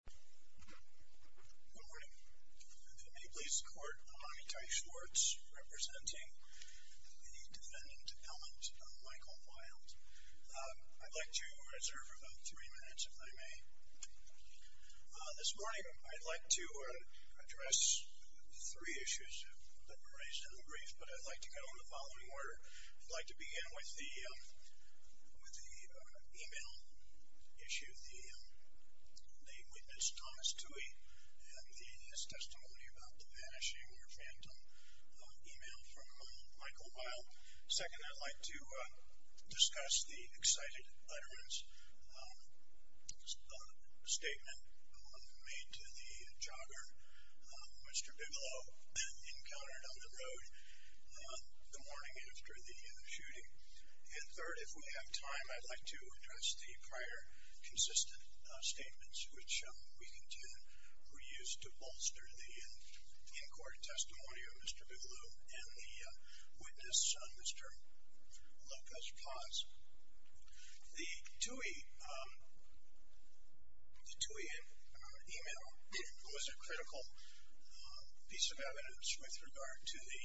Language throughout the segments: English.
Good morning. If it may please the court, I, Ty Schwartz, representing the defendant Ellen Mikal Wilde. I'd like to reserve about three minutes if I may. This morning I'd like to address three issues that were raised in the brief, but I'd like to go in the following order. I'd like to begin with the with the email issue, the witness, Thomas Tuohy, and his testimony about the vanishing or phantom email from Mikal Wilde. Second, I'd like to discuss the excited letterman's statement made to the jogger Mr. Bigelow encountered on the road the morning after the shooting. And third, if we have time, I'd like to address the prior consistent statements which we contend were used to bolster the in-court testimony of Mr. Bigelow and the witness, Mr. Lucas Paz. The Tuohy email was a critical piece of evidence with regard to the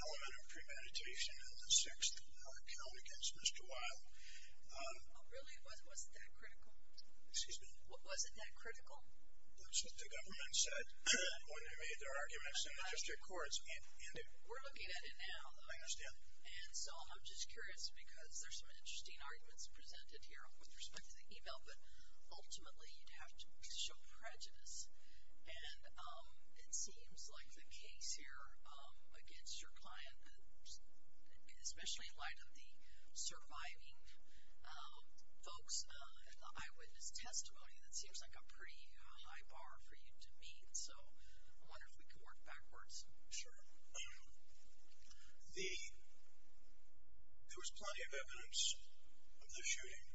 element of premeditation and the sixth count against Mr. Wilde. Really? Was it that critical? Excuse me? Was it that critical? That's what the government said when they made their arguments in the district courts. We're looking at it now. I understand. And so I'm just curious because there's some interesting arguments presented here with respect to the email, but ultimately you'd have to show prejudice and it seems like the case here against your client, especially in the surviving folks, in the eyewitness testimony, that seems like a pretty high bar for you to meet. So I wonder if we could work backwards. Sure. There was plenty of evidence of the shooting.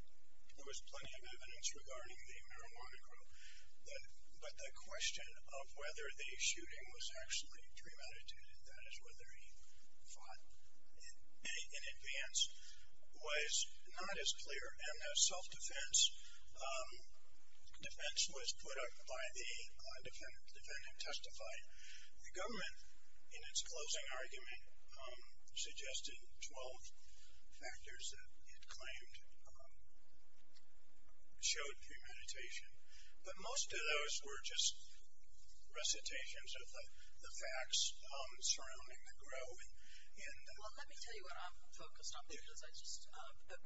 There was plenty of evidence regarding the marijuana group, but the question of whether the shooting was actually premeditated, that is whether he fought in advance, was not as clear. And the self-defense defense was put up by the defendant. The defendant testified. The government, in its closing argument, suggested twelve factors that it claimed showed premeditation, but most of those were just recitations of the facts. Surrounding the group. Well, let me tell you what I'm focused on because I just,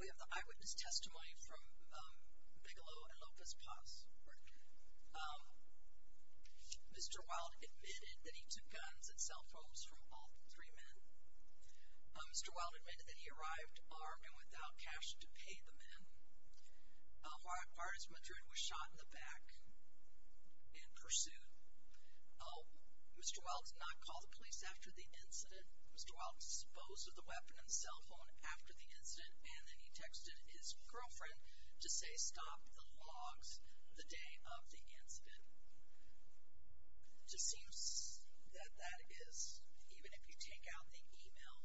we have the eyewitness testimony from Bigelow and Lopez Paz. Mr. Wilde admitted that he took guns and cell phones from all three men. Mr. Wilde admitted that he arrived armed and without cash to pay the men. Juarez Madrid was shot in the back in pursuit. Oh, Mr. Wilde did not call the police after the incident. Mr. Wilde disposed of the weapon and cell phone after the incident, and then he texted his girlfriend to say, stop the logs the day of the incident. It just seems that that is, even if you take out the email,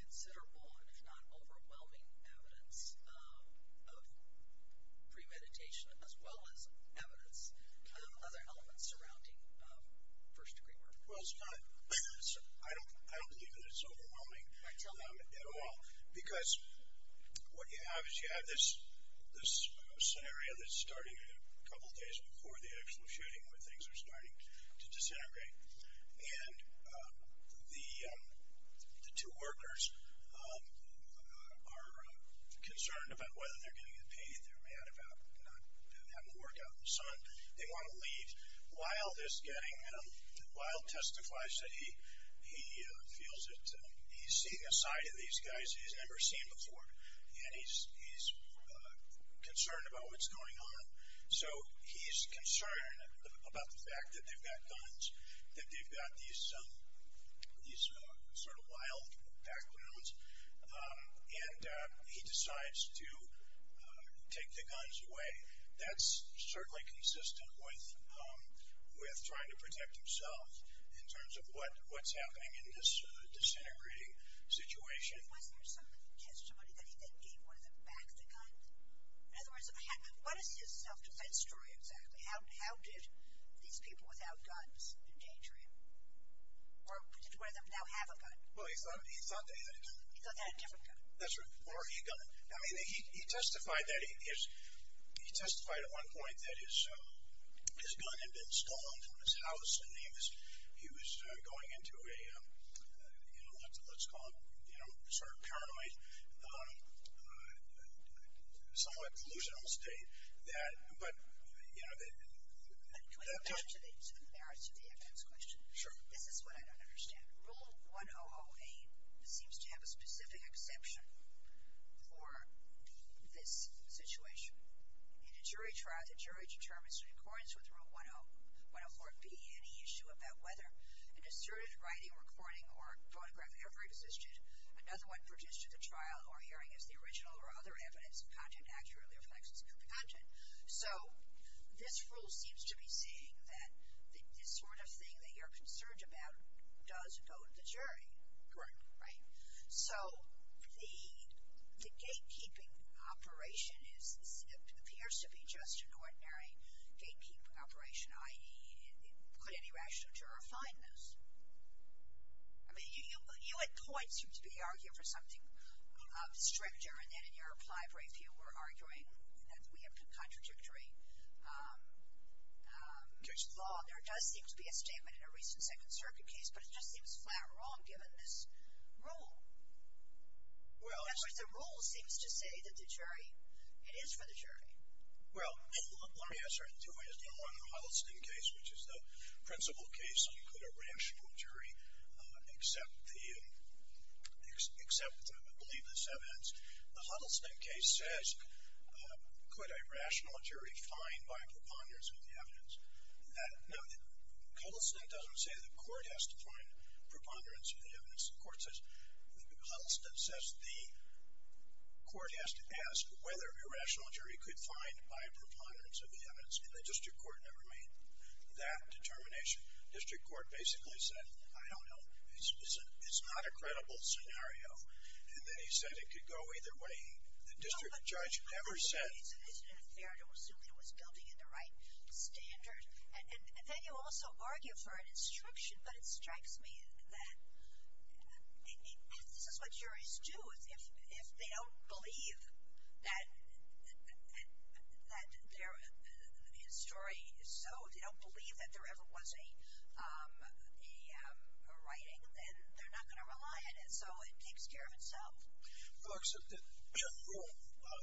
considerable and if not overwhelming evidence of premeditation, as well as evidence of other elements surrounding first degree murder. Well, it's not, I don't believe that it's overwhelming, I tell them, at all, because what you have is you have this scenario that's starting a couple days before the actual shooting where things are starting to disintegrate, and the two workers are concerned about whether they're getting paid. They're mad about not having the work out in the sun. They want to leave. Wilde is getting, Wilde testifies that he feels that he's seeing a side of these guys he's never seen before, and he's concerned about what's going on. So he's concerned about the fact that they've got guns, that they've got these sort of wild backgrounds, and he decides to take the guns away. That's certainly consistent with trying to protect himself in terms of what's happening in this disintegrating situation. But was there some testimony that he then gave one of them back the guns? In other words, what is his self-defense story exactly? How did these people without guns endanger him? Or did one of them now have a gun? Well, he thought they had a gun. He thought they had a different gun. That's right. Or a gun. I mean, he testified that he is, he testified at one point that his gun had been stolen from his house, and he was going into a, you know, let's call it, you know, sort of paranoid, somewhat delusional state. But, you know, the... Can I get back to the merits of the evidence question? Sure. This is what I don't understand. Rule 100A seems to have a specific exception for this situation. In a jury trial, the jury determines in accordance with Rule 1004B any issue about whether an asserted writing, recording, or photograph ever existed. Another one produced at the trial or hearing is the original or other evidence the content accurately reflects. So this rule seems to be saying that this sort of thing that you're concerned about does go to the jury. Correct. Right? So the gatekeeping operation appears to be just an ordinary gatekeep operation, i.e., could any rational juror find this? I mean, you at points seem to be arguing for something stricter, and then in your applied brief you were arguing that we have contradictory law. There does seem to be a statement in a recent Second Circuit case, but it just seems flat wrong given this rule. Well... In other words, the rule seems to say that the jury, it is for the jury. Well, let me answer in two ways. Number one, the Huddleston case, which is the principal case on could a rational jury accept the evidence. The Huddleston case says could a rational jury find by preponderance of the evidence. Now, Huddleston doesn't say the court has to find preponderance of the evidence. Huddleston says the court has to ask whether a rational jury could find by preponderance of the evidence. And the district court never made that determination. The district court basically said, I don't know, it's not a credible scenario. And then he said it could go either way. The district judge never said... Well, but I think it's an incident of merit. And then you also argue for an instruction, but it strikes me that this is what juries do. If they don't believe that his story is so, they don't believe that there ever was a writing, then they're not going to rely on it. So it takes care of itself. Well, look, Rule 1008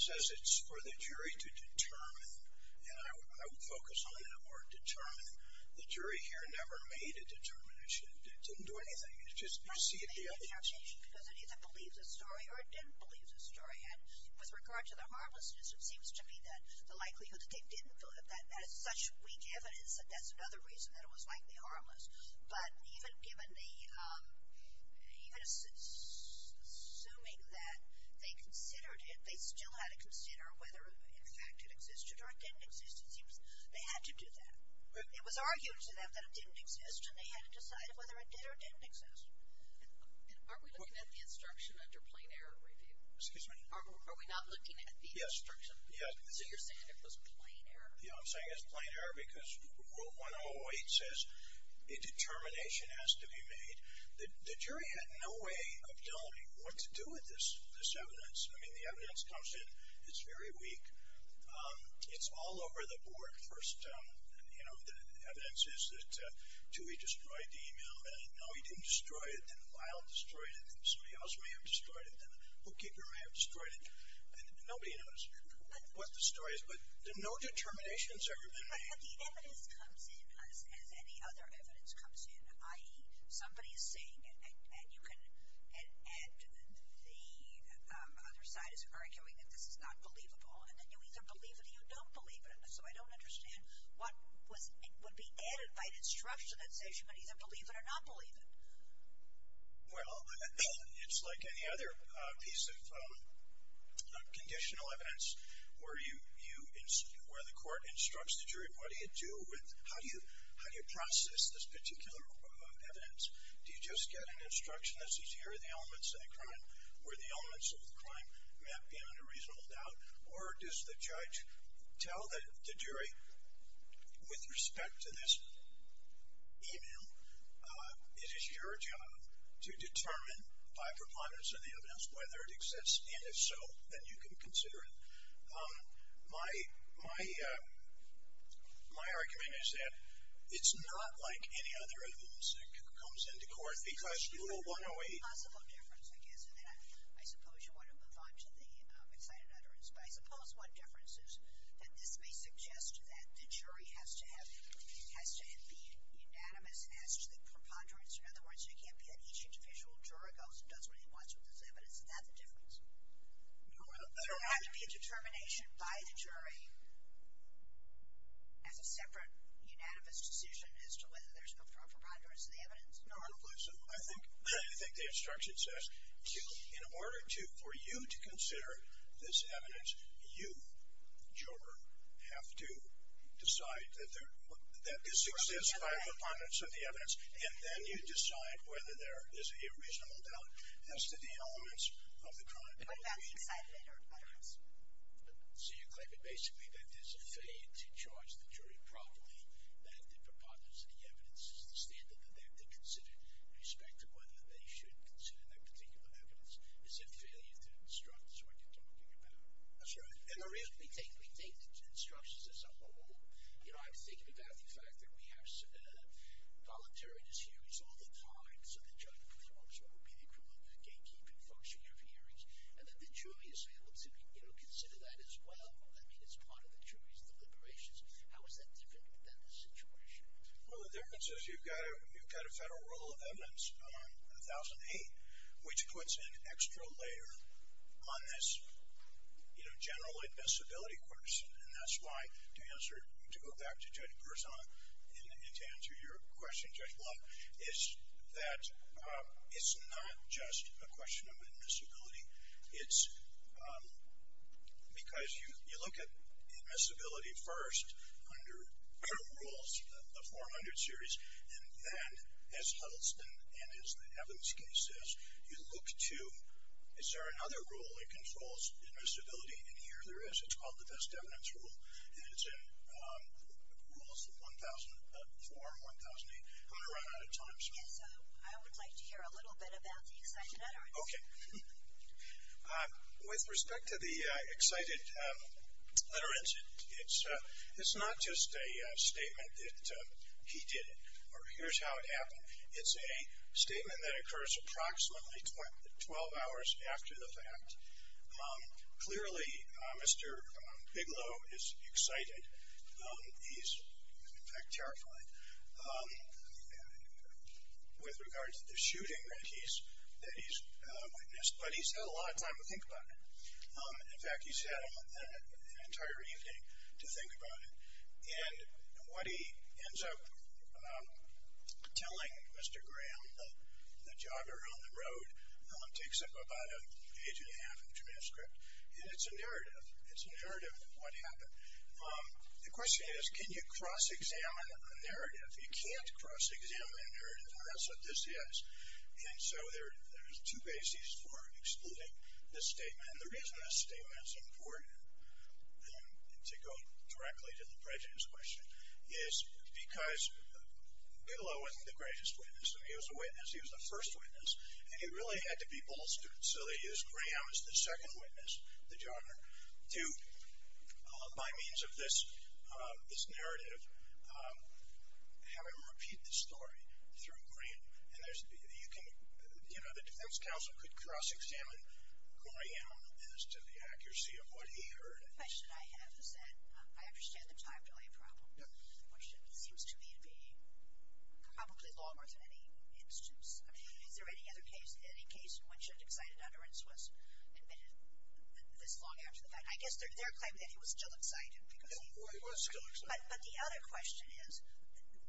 says it's for the jury to determine. And I would focus on the word determine. The jury here never made a determination. It didn't do anything. It's just you see it the other way. Because it either believes his story or it didn't believe his story. And with regard to the harmlessness, it seems to me that the likelihood that they didn't do it, that has such weak evidence that that's another reason that it was likely harmless. But even assuming that, they still had to consider whether, in fact, it existed or it didn't exist. It seems they had to do that. It was argued to them that it didn't exist, and they had to decide whether it did or didn't exist. And aren't we looking at the instruction under plain error review? Excuse me? Are we not looking at the instruction? Yes. So you're saying it was plain error? Yeah, I'm saying it was plain error because Rule 1008 says a determination has to be made. The jury had no way of telling what to do with this evidence. I mean, the evidence comes in. It's very weak. It's all over the board. First, you know, the evidence is that, two, he destroyed the email. Then, no, he didn't destroy it. Then, Lyle destroyed it. Then somebody else may have destroyed it. Then the bookkeeper may have destroyed it. And nobody knows what the story is. But no determinations have ever been made. But the evidence comes in as any other evidence comes in, i.e., somebody is saying, and the other side is arguing that this is not believable. And then you either believe it or you don't believe it. So I don't understand what would be added by the instruction that says you can either believe it or not believe it. Well, it's like any other piece of conditional evidence where the court instructs the jury, what do you do with, how do you process this particular evidence? Do you just get an instruction that says here are the elements of the crime, where the elements of the crime may have been in a reasonable doubt? Or does the judge tell the jury, with respect to this email, it is your job to determine by preponderance of the evidence whether it exists. And if so, then you can consider it. My argument is that it's not like any other evidence that comes into court because Rule 108. It's a possible difference, I guess, and then I suppose you want to move on to the excited utterance. But I suppose one difference is that this may suggest that the jury has to have, has to be unanimous as to the preponderance. In other words, it can't be that each individual juror goes and does what he wants with this evidence. Is that the difference? There has to be a determination by the jury as a separate unanimous decision as to whether there's a preponderance of the evidence. I think the instruction says in order for you to consider this evidence, you, juror, have to decide that there exists five preponderance of the evidence and then you decide whether there is a reasonable doubt as to the elements of the crime. So you're claiming basically that there's a failure to judge the jury properly, that the preponderance of the evidence is the standard that they have to consider in respect to whether they should consider that particular evidence. Is that failure to instruct is what you're talking about? That's right. And the reason we take instructions as a whole, you know, I was thinking about the fact that we have voluntary dishearings all the time so the judge pre-orders what would be the equivalent gatekeeping function of hearings and that the jury is able to, you know, consider that as well. I mean, it's part of the jury's deliberations. How is that different than the situation? Well, the difference is you've got a Federal Rule of Evidence 1008 which puts an extra layer on this, you know, general admissibility question and that's why to answer, to go back to Judge Berzon and to answer your question, Judge Blount, is that it's not just a question of admissibility. It's because you look at admissibility first under current rules, the 400 series, and then as Huddleston and as the evidence case is, you look to, is there another rule that controls admissibility? And here there is. It's called the Best Evidence Rule and it's in Rules 1004 and 1008. I'm going to run out of time. Yes, I would like to hear a little bit about the assignment. Okay. With respect to the excited litterant, it's not just a statement that he did it or here's how it happened. It's a statement that occurs approximately 12 hours after the fact. Clearly, Mr. Bigelow is excited. He's, in fact, terrified. With regards to the shooting that he's witnessed, but he's had a lot of time to think about it. In fact, he's had an entire evening to think about it and what he ends up telling Mr. Graham, the jogger on the road, takes up about an inch and a half of the transcript and it's a narrative. It's a narrative of what happened. The question is, can you cross-examine a narrative? You can't cross-examine a narrative and that's what this is. And so there's two bases for excluding this statement. And the reason this statement is important, to go directly to the prejudice question, is because Bigelow wasn't the greatest witness. I mean, he was a witness. He was the first witness and he really had to be bolstered. So they used Graham as the second witness, the jogger, to, by means of this narrative, have him repeat the story through Graham. And there's, you can, you know, the defense counsel could cross-examine Graham as to the accuracy of what he heard. The question I have is that I understand the time delay problem. One shift seems to me to be probably longer than any instance. I mean, is there any other case, any case in which an excited utterance was admitted this long after the fact? I guess they're claiming that he was still excited. Well, he was still excited. But the other question is,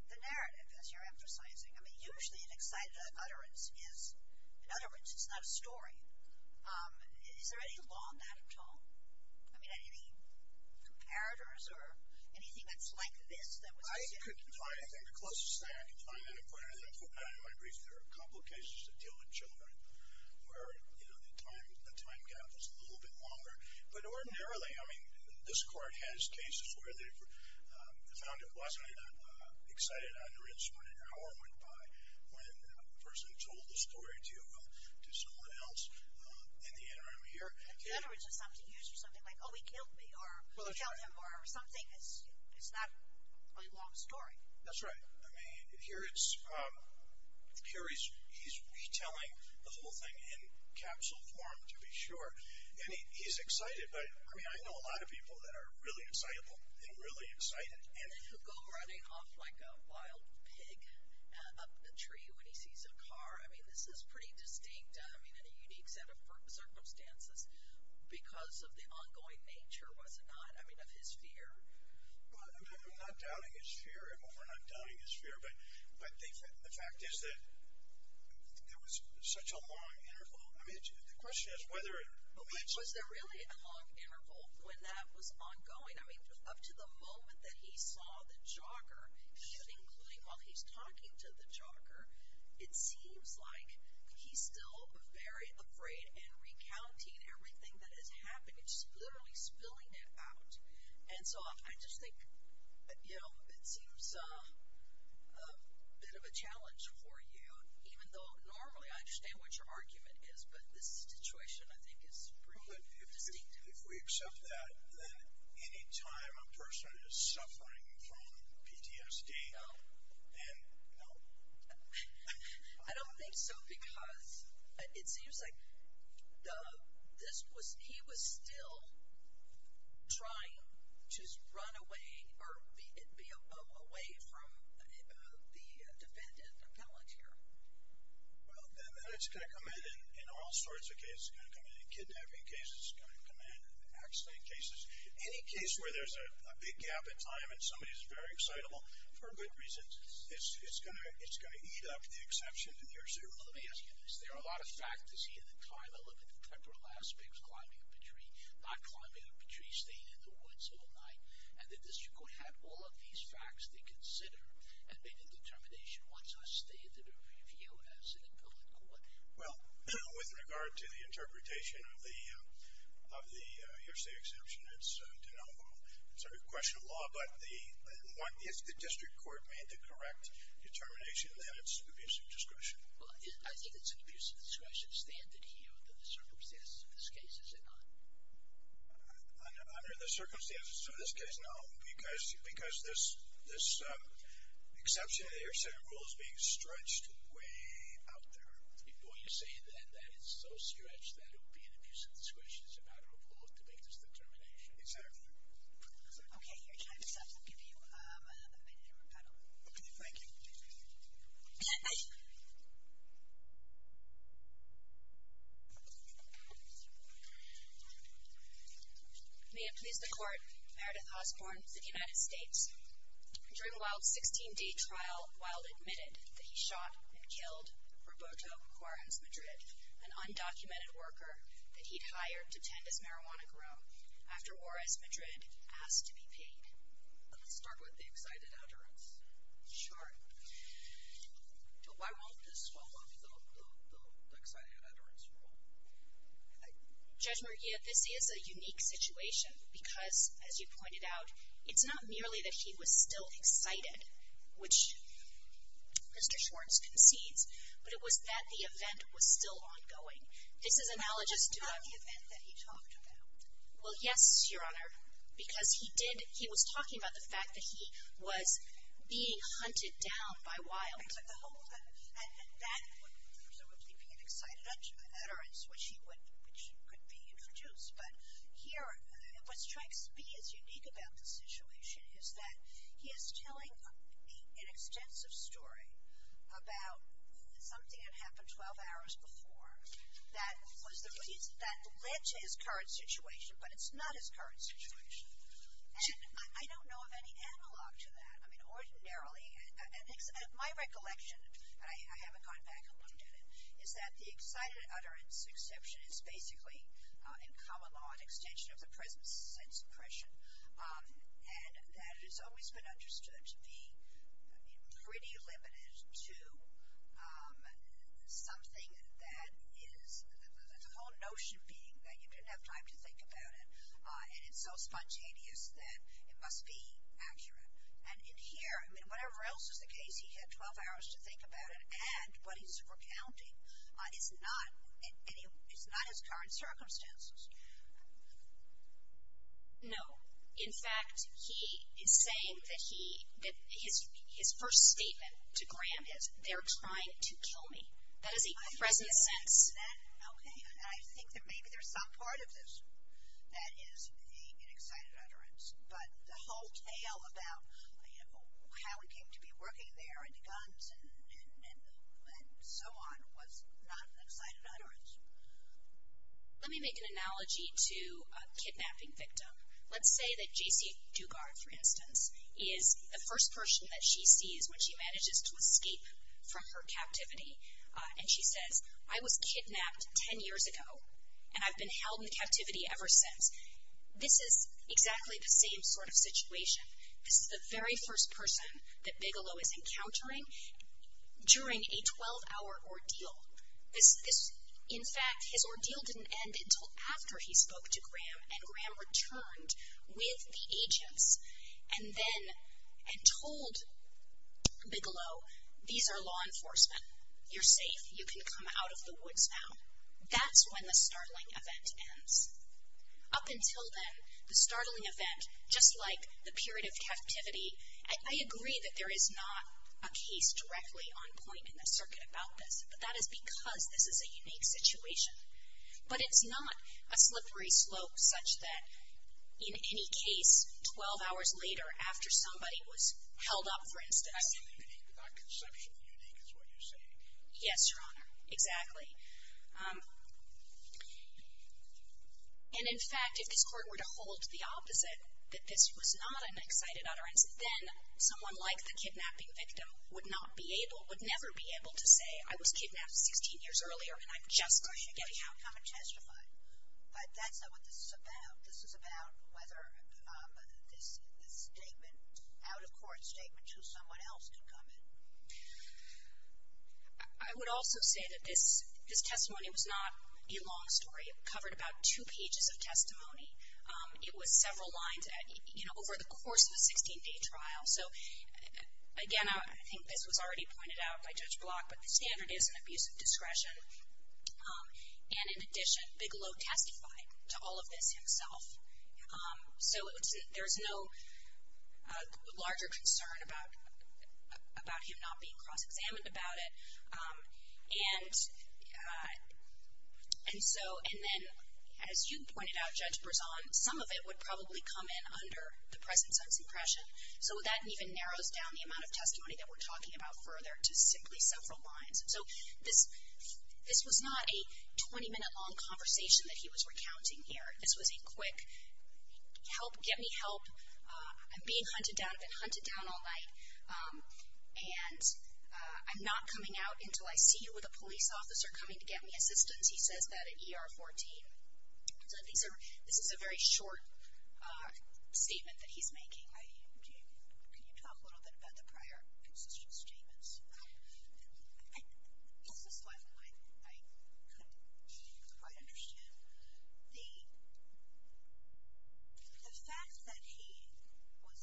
the narrative, as you're emphasizing, I mean, usually an excited utterance is, in other words, it's not a story. Is there any law in that at all? I mean, any comparators or anything that's like this that was assumed? I could find, I think the closest thing I could find in a comparator, and in my brief, there are a couple of cases that deal with children where, you know, the time gap is a little bit longer. But ordinarily, I mean, this Court has cases where they've found it wasn't an excited utterance when an hour went by, when a person told the story to someone else in the interim here. An utterance is something used for something like, oh, he killed me, or she killed him, or something. It's not a long story. That's right. I mean, here he's retelling the whole thing in capsule form, to be sure. And he's excited. But, I mean, I know a lot of people that are really excitable and really excited. And then he'll go running off like a wild pig up the tree when he sees a car. I mean, this is pretty distinct, I mean, in a unique set of circumstances because of the ongoing nature, was it not? I mean, of his fear. Well, I'm not doubting his fear. We're not doubting his fear. But the fact is that there was such a long interval. I mean, the question is whether it was. Was there really a long interval when that was ongoing? I mean, up to the moment that he saw the jogger, including while he's talking to the jogger, it seems like he's still very afraid and recounting everything that has happened. He's literally spilling it out. And so I just think, you know, it seems a bit of a challenge for you, even though normally I understand what your argument is. But this situation, I think, is pretty distinct. If we accept that, then any time a person is suffering from PTSD, then no. I don't think so because it seems like he was still trying to run away or be away from the defendant, the palantir. Well, and that's going to come in in all sorts of cases. It's going to come in in kidnapping cases. It's going to come in in accident cases. Any case where there's a big gap in time and somebody is very excitable, for good reason, it's going to eat up the exception and hearsay rule. Let me ask you this. There are a lot of facts to see in the time element, the temporal aspects, climbing up a tree, not climbing up a tree, staying in the woods all night. And the district court had all of these facts to consider and made a determination. What's our standard of review as an appellate court? Well, with regard to the interpretation of the hearsay exception, it's denominal. It's a question of law, but if the district court made the correct determination, then it's an abuse of discretion. Well, I think it's an abuse of discretion standard here, under the circumstances of this case, is it not? Under the circumstances of this case, no, because this exception to the hearsay rule is being stretched way out there. Well, you're saying then that it's so stretched that it would be an abuse of discretion. It's a matter of law to make this determination. Exactly. Okay. Your time is up. I'll give you a minute to rebuttal. Thank you. Thank you. May it please the court, Meredith Osborne of the United States, during Wilde's 16-day trial, Wilde admitted that he shot and killed Roberto Juarez Madrid, an undocumented worker that he'd hired to tend his marijuana groom, after Juarez Madrid asked to be paid. Let me start with the excited utterance. Sure. Why won't this swallow up the excited utterance rule? Judge Murilla, this is a unique situation, because, as you pointed out, it's not merely that he was still excited, which Mr. Schwartz concedes, but it was that the event was still ongoing. This is analogous to the event that he talked about. Well, yes, Your Honor, because he was talking about the fact that he was being hunted down by Wilde. And that would presumably be an excited utterance, which could be introduced. But here, what strikes me as unique about the situation is that he is telling an extensive story about something that happened 12 hours before that led to his current situation, but it's not his current situation. And I don't know of any analog to that. I mean, ordinarily, my recollection, and I haven't gone back and looked at it, is that the excited utterance exception is basically, in common law, an extension of the prison sentence impression, and that it has always been understood to be pretty limited to something that is, the whole notion being that you didn't have time to think about it, and it's so spontaneous that it must be accurate. And in here, I mean, whatever else is the case, he had 12 hours to think about it, and what he's recounting is not his current circumstances. No. In fact, he is saying that his first statement to Graham is, they're trying to kill me. That is a prison sentence. Okay, and I think that maybe there's some part of this that is the excited utterance, but the whole tale about how he came to be working there and the guns and so on was not an excited utterance. Let me make an analogy to a kidnapping victim. Let's say that J.C. Dugard, for instance, is the first person that she sees when she manages to escape from her captivity. And she says, I was kidnapped 10 years ago, and I've been held in captivity ever since. This is exactly the same sort of situation. This is the very first person that Bigelow is encountering during a 12-hour ordeal. In fact, his ordeal didn't end until after he spoke to Graham, and Graham returned with the agents and then told Bigelow, these are law enforcement. You're safe. You can come out of the woods now. That's when the startling event ends. Up until then, the startling event, just like the period of captivity, I agree that there is not a case directly on point in the circuit about this, but that is because this is a unique situation. But it's not a slippery slope such that in any case, 12 hours later after somebody was held up, for instance. Not conceptually unique is what you're saying. Yes, Your Honor, exactly. And in fact, if this Court were to hold the opposite, that this was not an excited utterance, then someone like the kidnapping victim would not be able, would never be able to say, I was kidnapped 16 years earlier, and I'm just getting out. I'm going to testify, but that's not what this is about. This is about whether this statement, out-of-court statement to someone else could come in. I would also say that this testimony was not a long story. It covered about two pages of testimony. It was several lines over the course of a 16-day trial. So, again, I think this was already pointed out by Judge Block, but the standard is an abuse of discretion. And in addition, Bigelow testified to all of this himself. So there's no larger concern about him not being cross-examined about it. And so, and then, as you pointed out, Judge Brezon, some of it would probably come in under the presence of suppression. So that even narrows down the amount of testimony that we're talking about further to simply several lines. So this was not a 20-minute long conversation that he was recounting here. This was a quick, help, get me help, I'm being hunted down, I've been hunted down all night, and I'm not coming out until I see you with a police officer coming to get me assistance. He says that at ER 14. So this is a very short statement that he's making. Can you talk a little bit about the prior consistent statements? This is what I couldn't quite understand. The fact that he was,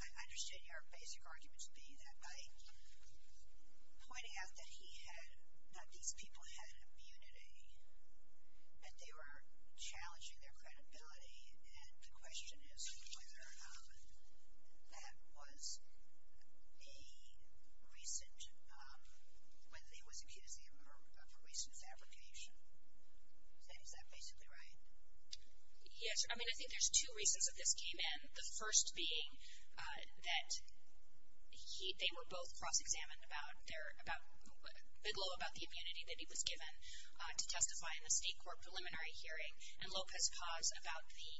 I understand your basic argument to be that by pointing out that he had, that these people had immunity, that they were challenging their credibility, and the question is whether that was a recent, whether he was accused of a recent fabrication. Is that basically right? Yes. I mean, I think there's two reasons that this came in. The first being that they were both cross-examined about their, Bigelow about the immunity that he was given to testify in the State Court preliminary hearing, and Lopez-Paz about the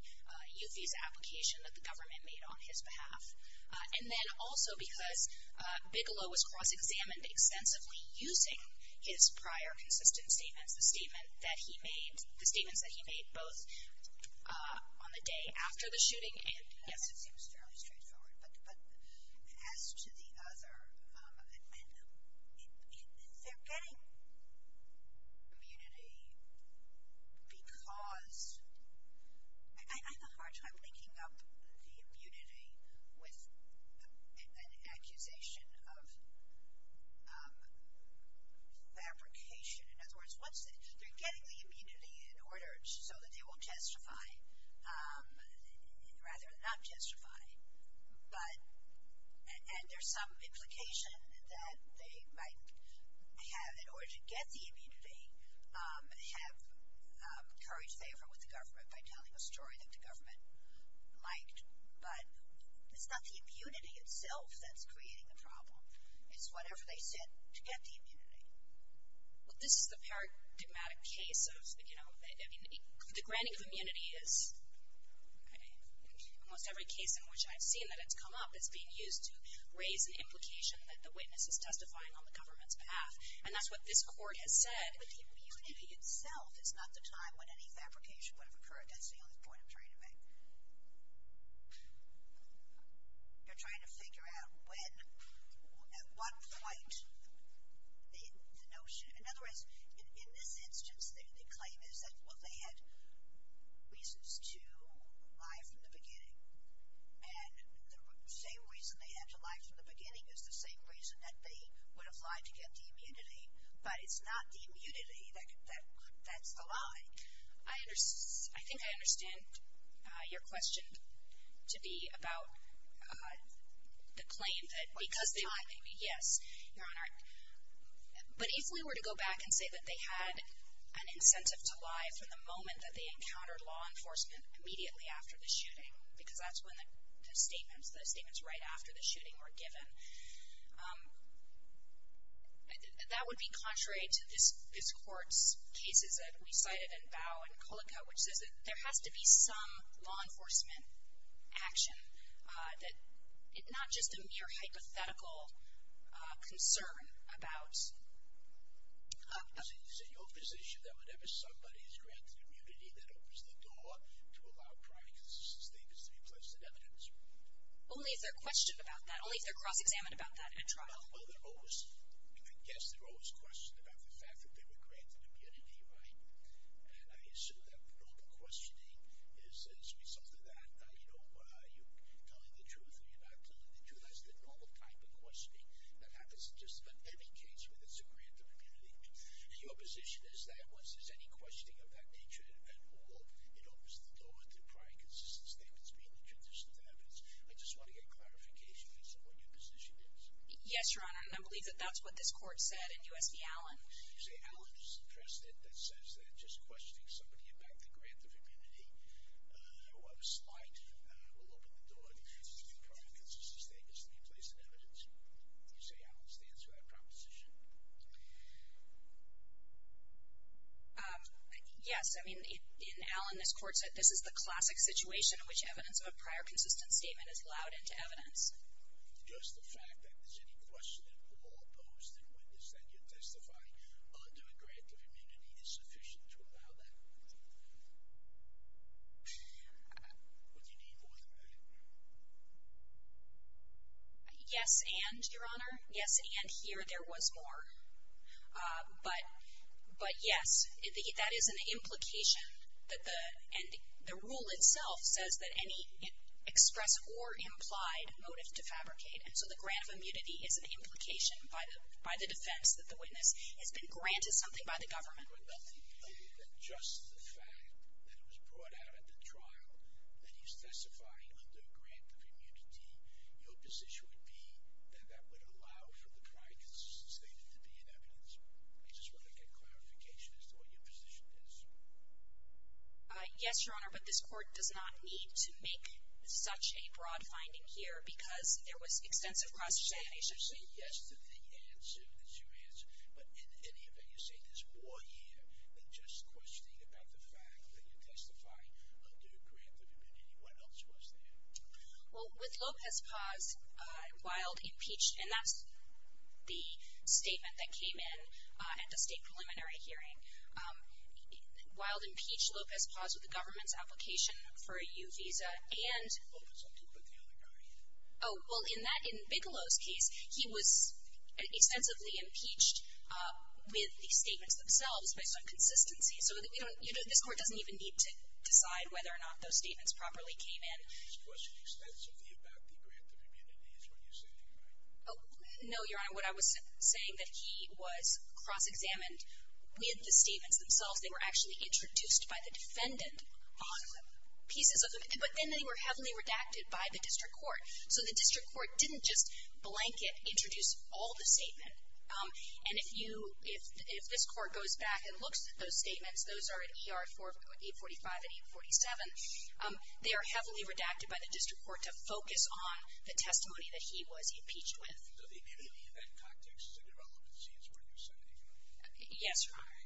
youth visa application that the government made on his behalf. And then also because Bigelow was cross-examined extensively using his prior consistent statements, the statement that he made, the statements that he made both on the day after the shooting and... Yes, it seems fairly straightforward. But as to the other, they're getting immunity because... I have a hard time linking up the immunity with an accusation of fabrication. In other words, once they're getting the immunity in order so that they will testify, rather than not testify, but, and there's some implication that they might have, in order to get the immunity, have courage to favor with the government by telling a story that the government liked. But it's not the immunity itself that's creating the problem. It's whatever they said to get the immunity. The granting of immunity is, in almost every case in which I've seen that it's come up, it's being used to raise an implication that the witness is testifying on the government's behalf. And that's what this Court has said. But the immunity itself is not the time when any fabrication would have occurred. That's the only point I'm trying to make. They're trying to figure out when, at what point the notion... Well, they had reasons to lie from the beginning. And the same reason they had to lie from the beginning is the same reason that they would have lied to get the immunity. But it's not the immunity that's the lie. I think I understand your question to be about the claim that because they... Because time. Yes, Your Honor. But if we were to go back and say that they had an incentive to lie from the moment that they encountered law enforcement immediately after the shooting, because that's when the statements, the statements right after the shooting were given, that would be contrary to this Court's cases that we cited in Bowe and Kulika, which says that there has to be some law enforcement action, that not just a mere hypothetical concern about... Is it your position that whenever somebody is granted immunity, that opens the door to allow practices and statements to be placed in evidence? Only if they're questioned about that. Only if they're cross-examined about that at trial. Well, they're always... I guess they're always questioned about the fact that they were granted immunity, right? And I assume that the normal questioning is as a result of that. You know, you're telling the truth or you're not telling the truth. That's the normal type of questioning that happens in just about any case where there's a grant of immunity. And your position is that once there's any questioning of that nature at all, it opens the door to prior consistent statements being the truth instead of evidence. I just want to get clarification on what your position is. Yes, Your Honor, and I believe that that's what this Court said in U.S. v. Allen. You say Allen is the precedent that says that just questioning somebody to get back the grant of immunity was slight. It will open the door to prior consistent statements to be placed in evidence. You say Allen stands to that proposition? Yes. I mean, in Allen, this Court said this is the classic situation in which evidence of a prior consistent statement is allowed into evidence. Just the fact that there's any question at all posed in witness that you testify under a grant of immunity is sufficient to allow that? Would you need more than that? Yes, and, Your Honor, yes, and here there was more. But, yes, that is an implication. And the rule itself says that any express or implied motive to fabricate. And so the grant of immunity is an implication by the defense that the witness has been granted something by the government. But nothing here than just the fact that it was brought out at the trial that he's testifying under a grant of immunity, your position would be that that would allow for the prior consistent statement to be in evidence. I just want to get clarification as to what your position is. Yes, Your Honor, but this Court does not need to make such a broad finding here because there was extensive cross-examination. You say yes to the answer that you answered, but in any event you say there's more here than just questioning about the fact that you're testifying under a grant of immunity. What else was there? Well, with Lopez Paz, Wilde impeached, and that's the statement that came in at the state preliminary hearing. Wilde impeached Lopez Paz with the government's application for a U visa and Well, in that, in Bigelow's case, he was extensively impeached with the statements themselves based on consistency. So this Court doesn't even need to decide whether or not those statements properly came in. He was questioned extensively about the grant of immunity is what you're saying, right? No, Your Honor. What I was saying that he was cross-examined with the statements themselves. They were actually introduced by the defendant on pieces of them. But then they were heavily redacted by the district court. So the district court didn't just blanket introduce all the statement. And if you, if this Court goes back and looks at those statements, those are at ER 845 and 847, they are heavily redacted by the district court to focus on the testimony that he was impeached with. So the immunity event tactics to develop a chance for a new sentence, right? Yes, Your Honor.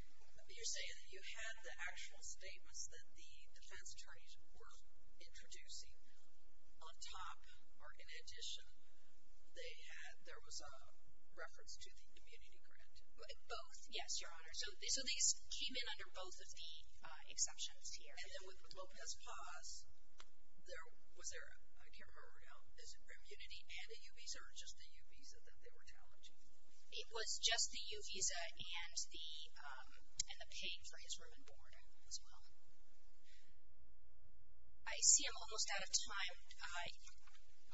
You're saying that you had the actual statements that the defense attorneys were introducing on top, or in addition, they had, there was a reference to the immunity grant. Both, yes, Your Honor. So these came in under both of the exceptions here. And then with Lopez-Paz, there, was there, I can't remember, was it immunity and a U visa or just the U visa that they were challenging? It was just the U visa and the paid for his room and board as well. I see I'm almost out of time. I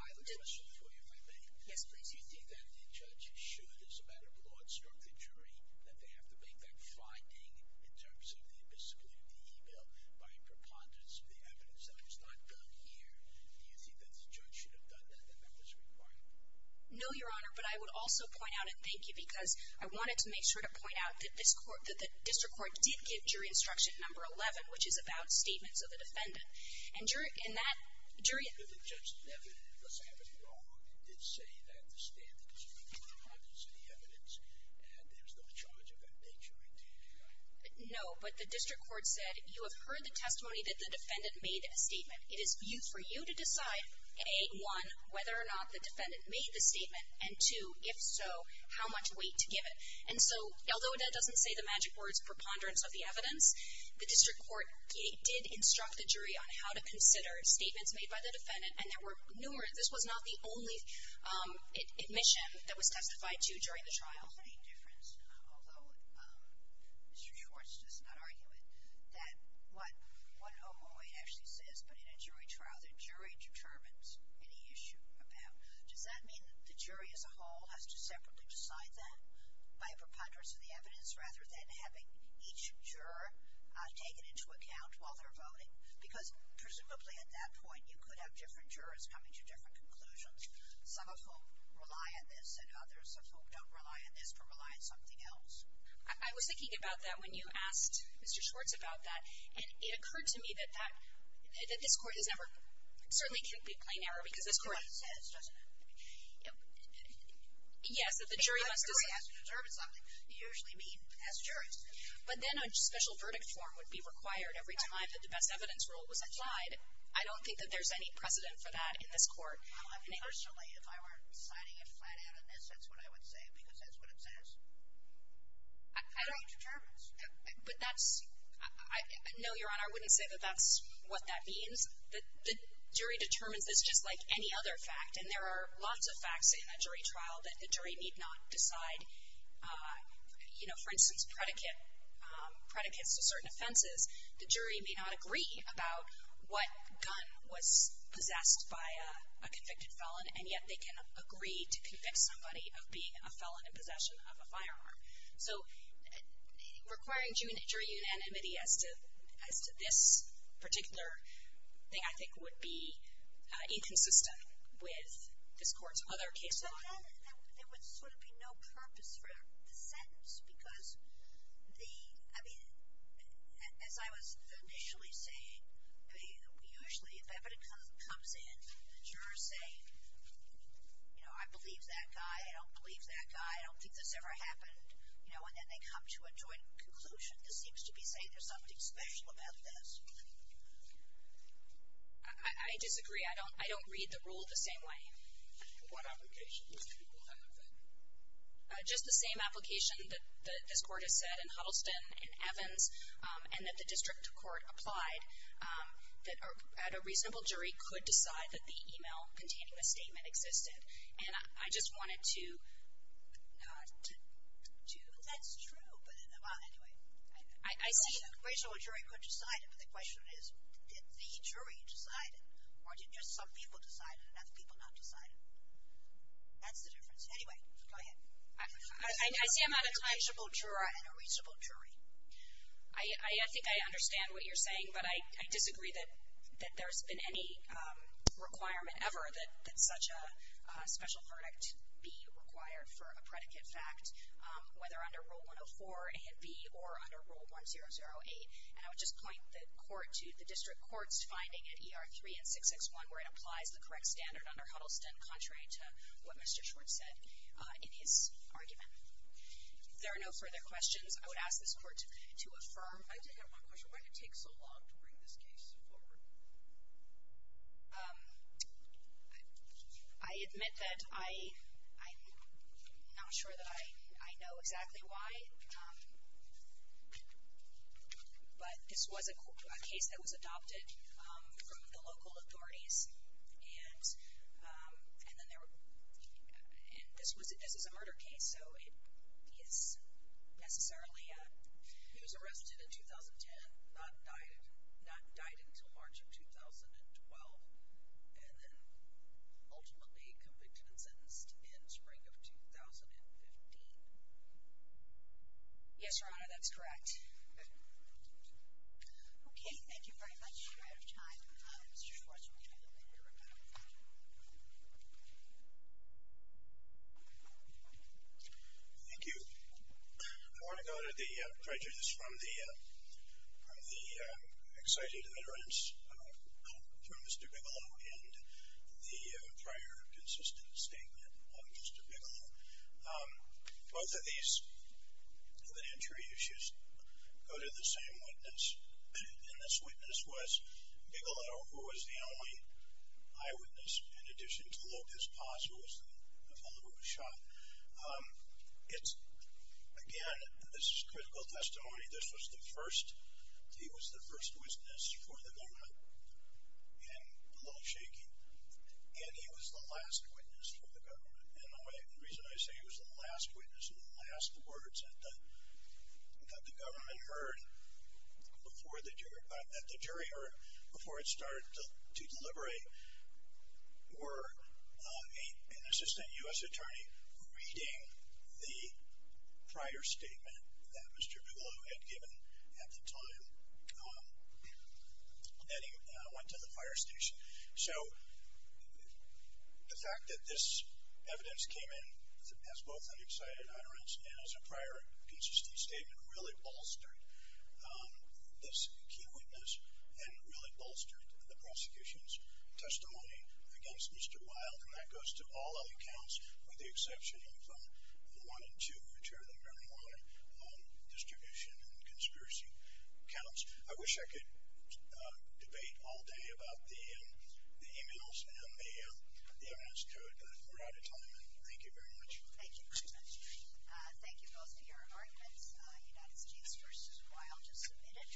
have a question for you, if I may. Yes, please. Do you think that the judge should, as a matter of law, instruct the jury that they have to make that finding in terms of the abysmal immunity bill by preponderance of the evidence that was not done here? Do you think that the judge should have done that and that was required? No, Your Honor, but I would also point out, and thank you, because I wanted to make sure to point out that this court, that the district court did give jury instruction number 11, which is about statements of the defendant. And jury, in that, jury. But the judge never, because I have it wrong, did say that the standards were preponderance of the evidence and there's no charge of that nature. No, but the district court said, you have heard the testimony that the defendant made in a statement. It is for you to decide, A, one, whether or not the defendant made the statement, and two, if so, how much weight to give it. And so, although that doesn't say the magic words, preponderance of the evidence, the district court did instruct the jury on how to consider statements made by the defendant, and there were numerous. This was not the only admission that was testified to during the trial. There's also a difference, although Mr. Schwartz does not argue it, that what 108 actually says, but in a jury trial, the jury determines any issue about. Does that mean that the jury as a whole has to separately decide that by preponderance of the evidence, rather than having each juror taken into account while they're voting? Because presumably at that point, you could have different jurors coming to different conclusions, some of whom rely on this and others of whom don't rely on this, but rely on something else. I was thinking about that when you asked Mr. Schwartz about that, and it occurred to me that that, that this Court has never, certainly can't be plain error because this Court. It's what it says, doesn't it? Yes, that the jury must decide. If the jury has to determine something, you usually meet as jurors. But then a special verdict form would be required every time that the best evidence rule was applied. I don't think that there's any precedent for that in this Court. Personally, if I weren't signing it flat out in this, that's what I would say because that's what it says. The jury determines. But that's, no, Your Honor, I wouldn't say that that's what that means. The jury determines this just like any other fact, and there are lots of facts in a jury trial that the jury need not decide. You know, for instance, predicates to certain offenses, the jury may not agree about what gun was possessed by a convicted felon, and yet they can agree to convict somebody of being a felon in possession of a firearm. So requiring jury unanimity as to this particular thing, I think would be inconsistent with this Court's other case law. But then there would sort of be no purpose for the sentence because the, I mean, as I was initially saying, I mean, usually if evidence comes in, the jurors say, you know, I believe that guy, I don't believe that guy, I don't think this ever happened, you know, and then they come to a joint conclusion that seems to be saying there's something special about this. I disagree. I don't read the rule the same way. What applications do you have then? Just the same application that this Court has said in Huddleston and Evans and that the district court applied, that a reasonable jury could decide that the email containing the statement existed. And I just wanted to not do that. That's true, but anyway. I see that. A reasonable jury could decide it, but the question is, did the jury decide it, or did just some people decide it and other people not decide it? That's the difference. Anyway, go ahead. I see I'm out of time. A reasonable juror and a reasonable jury. I think I understand what you're saying, but I disagree that there's been any requirement ever that such a special verdict be required for a predicate fact, whether under Rule 104A and B or under Rule 100A. And I would just point the Court to the district court's finding at ER 3 and 661 where it applies the correct standard under Huddleston, contrary to what Mr. Schwartz said in his argument. If there are no further questions, I would ask this Court to affirm. I did have one question. Why did it take so long to bring this case forward? I admit that I'm not sure that I know exactly why, but this was a case that was adopted from the local authorities, and this is a murder case, so it is necessarily a ---- He was arrested in 2010, not died until March of 2012, and then ultimately convicted and sentenced in spring of 2015. Yes, Your Honor, that's correct. Okay. Thank you very much. We're out of time. Mr. Schwartz, would you like to make your rebuttal? Thank you. I want to go to the prejudice from the exciting deterrence from Mr. Bigelow and the prior consistent statement of Mr. Bigelow. Both of these, the entry issues, go to the same witness, and this witness was Bigelow, who was the only eyewitness, in addition to Lopez Paz, who was the fellow who was shot. Again, this is critical testimony. This was the first witness for the government, and a little shaky, and he was the last witness for the government. And the reason I say he was the last witness and the last words that the government heard, that the jury heard before it started to deliberate, were an assistant U.S. attorney reading the prior statement that Mr. Bigelow had given at the time that he went to the fire station. So the fact that this evidence came in as both an excited utterance and as a prior consistent statement really bolstered this key witness and really bolstered the prosecution's testimony against Mr. Weil, and that goes to all other counts with the exception of one and two, which are the marijuana distribution and conspiracy counts. I wish I could debate all day about the emails and the evidence throughout a time, and thank you very much. Thank you very much. Thank you both for your arguments. United States v. Weil, just a minute.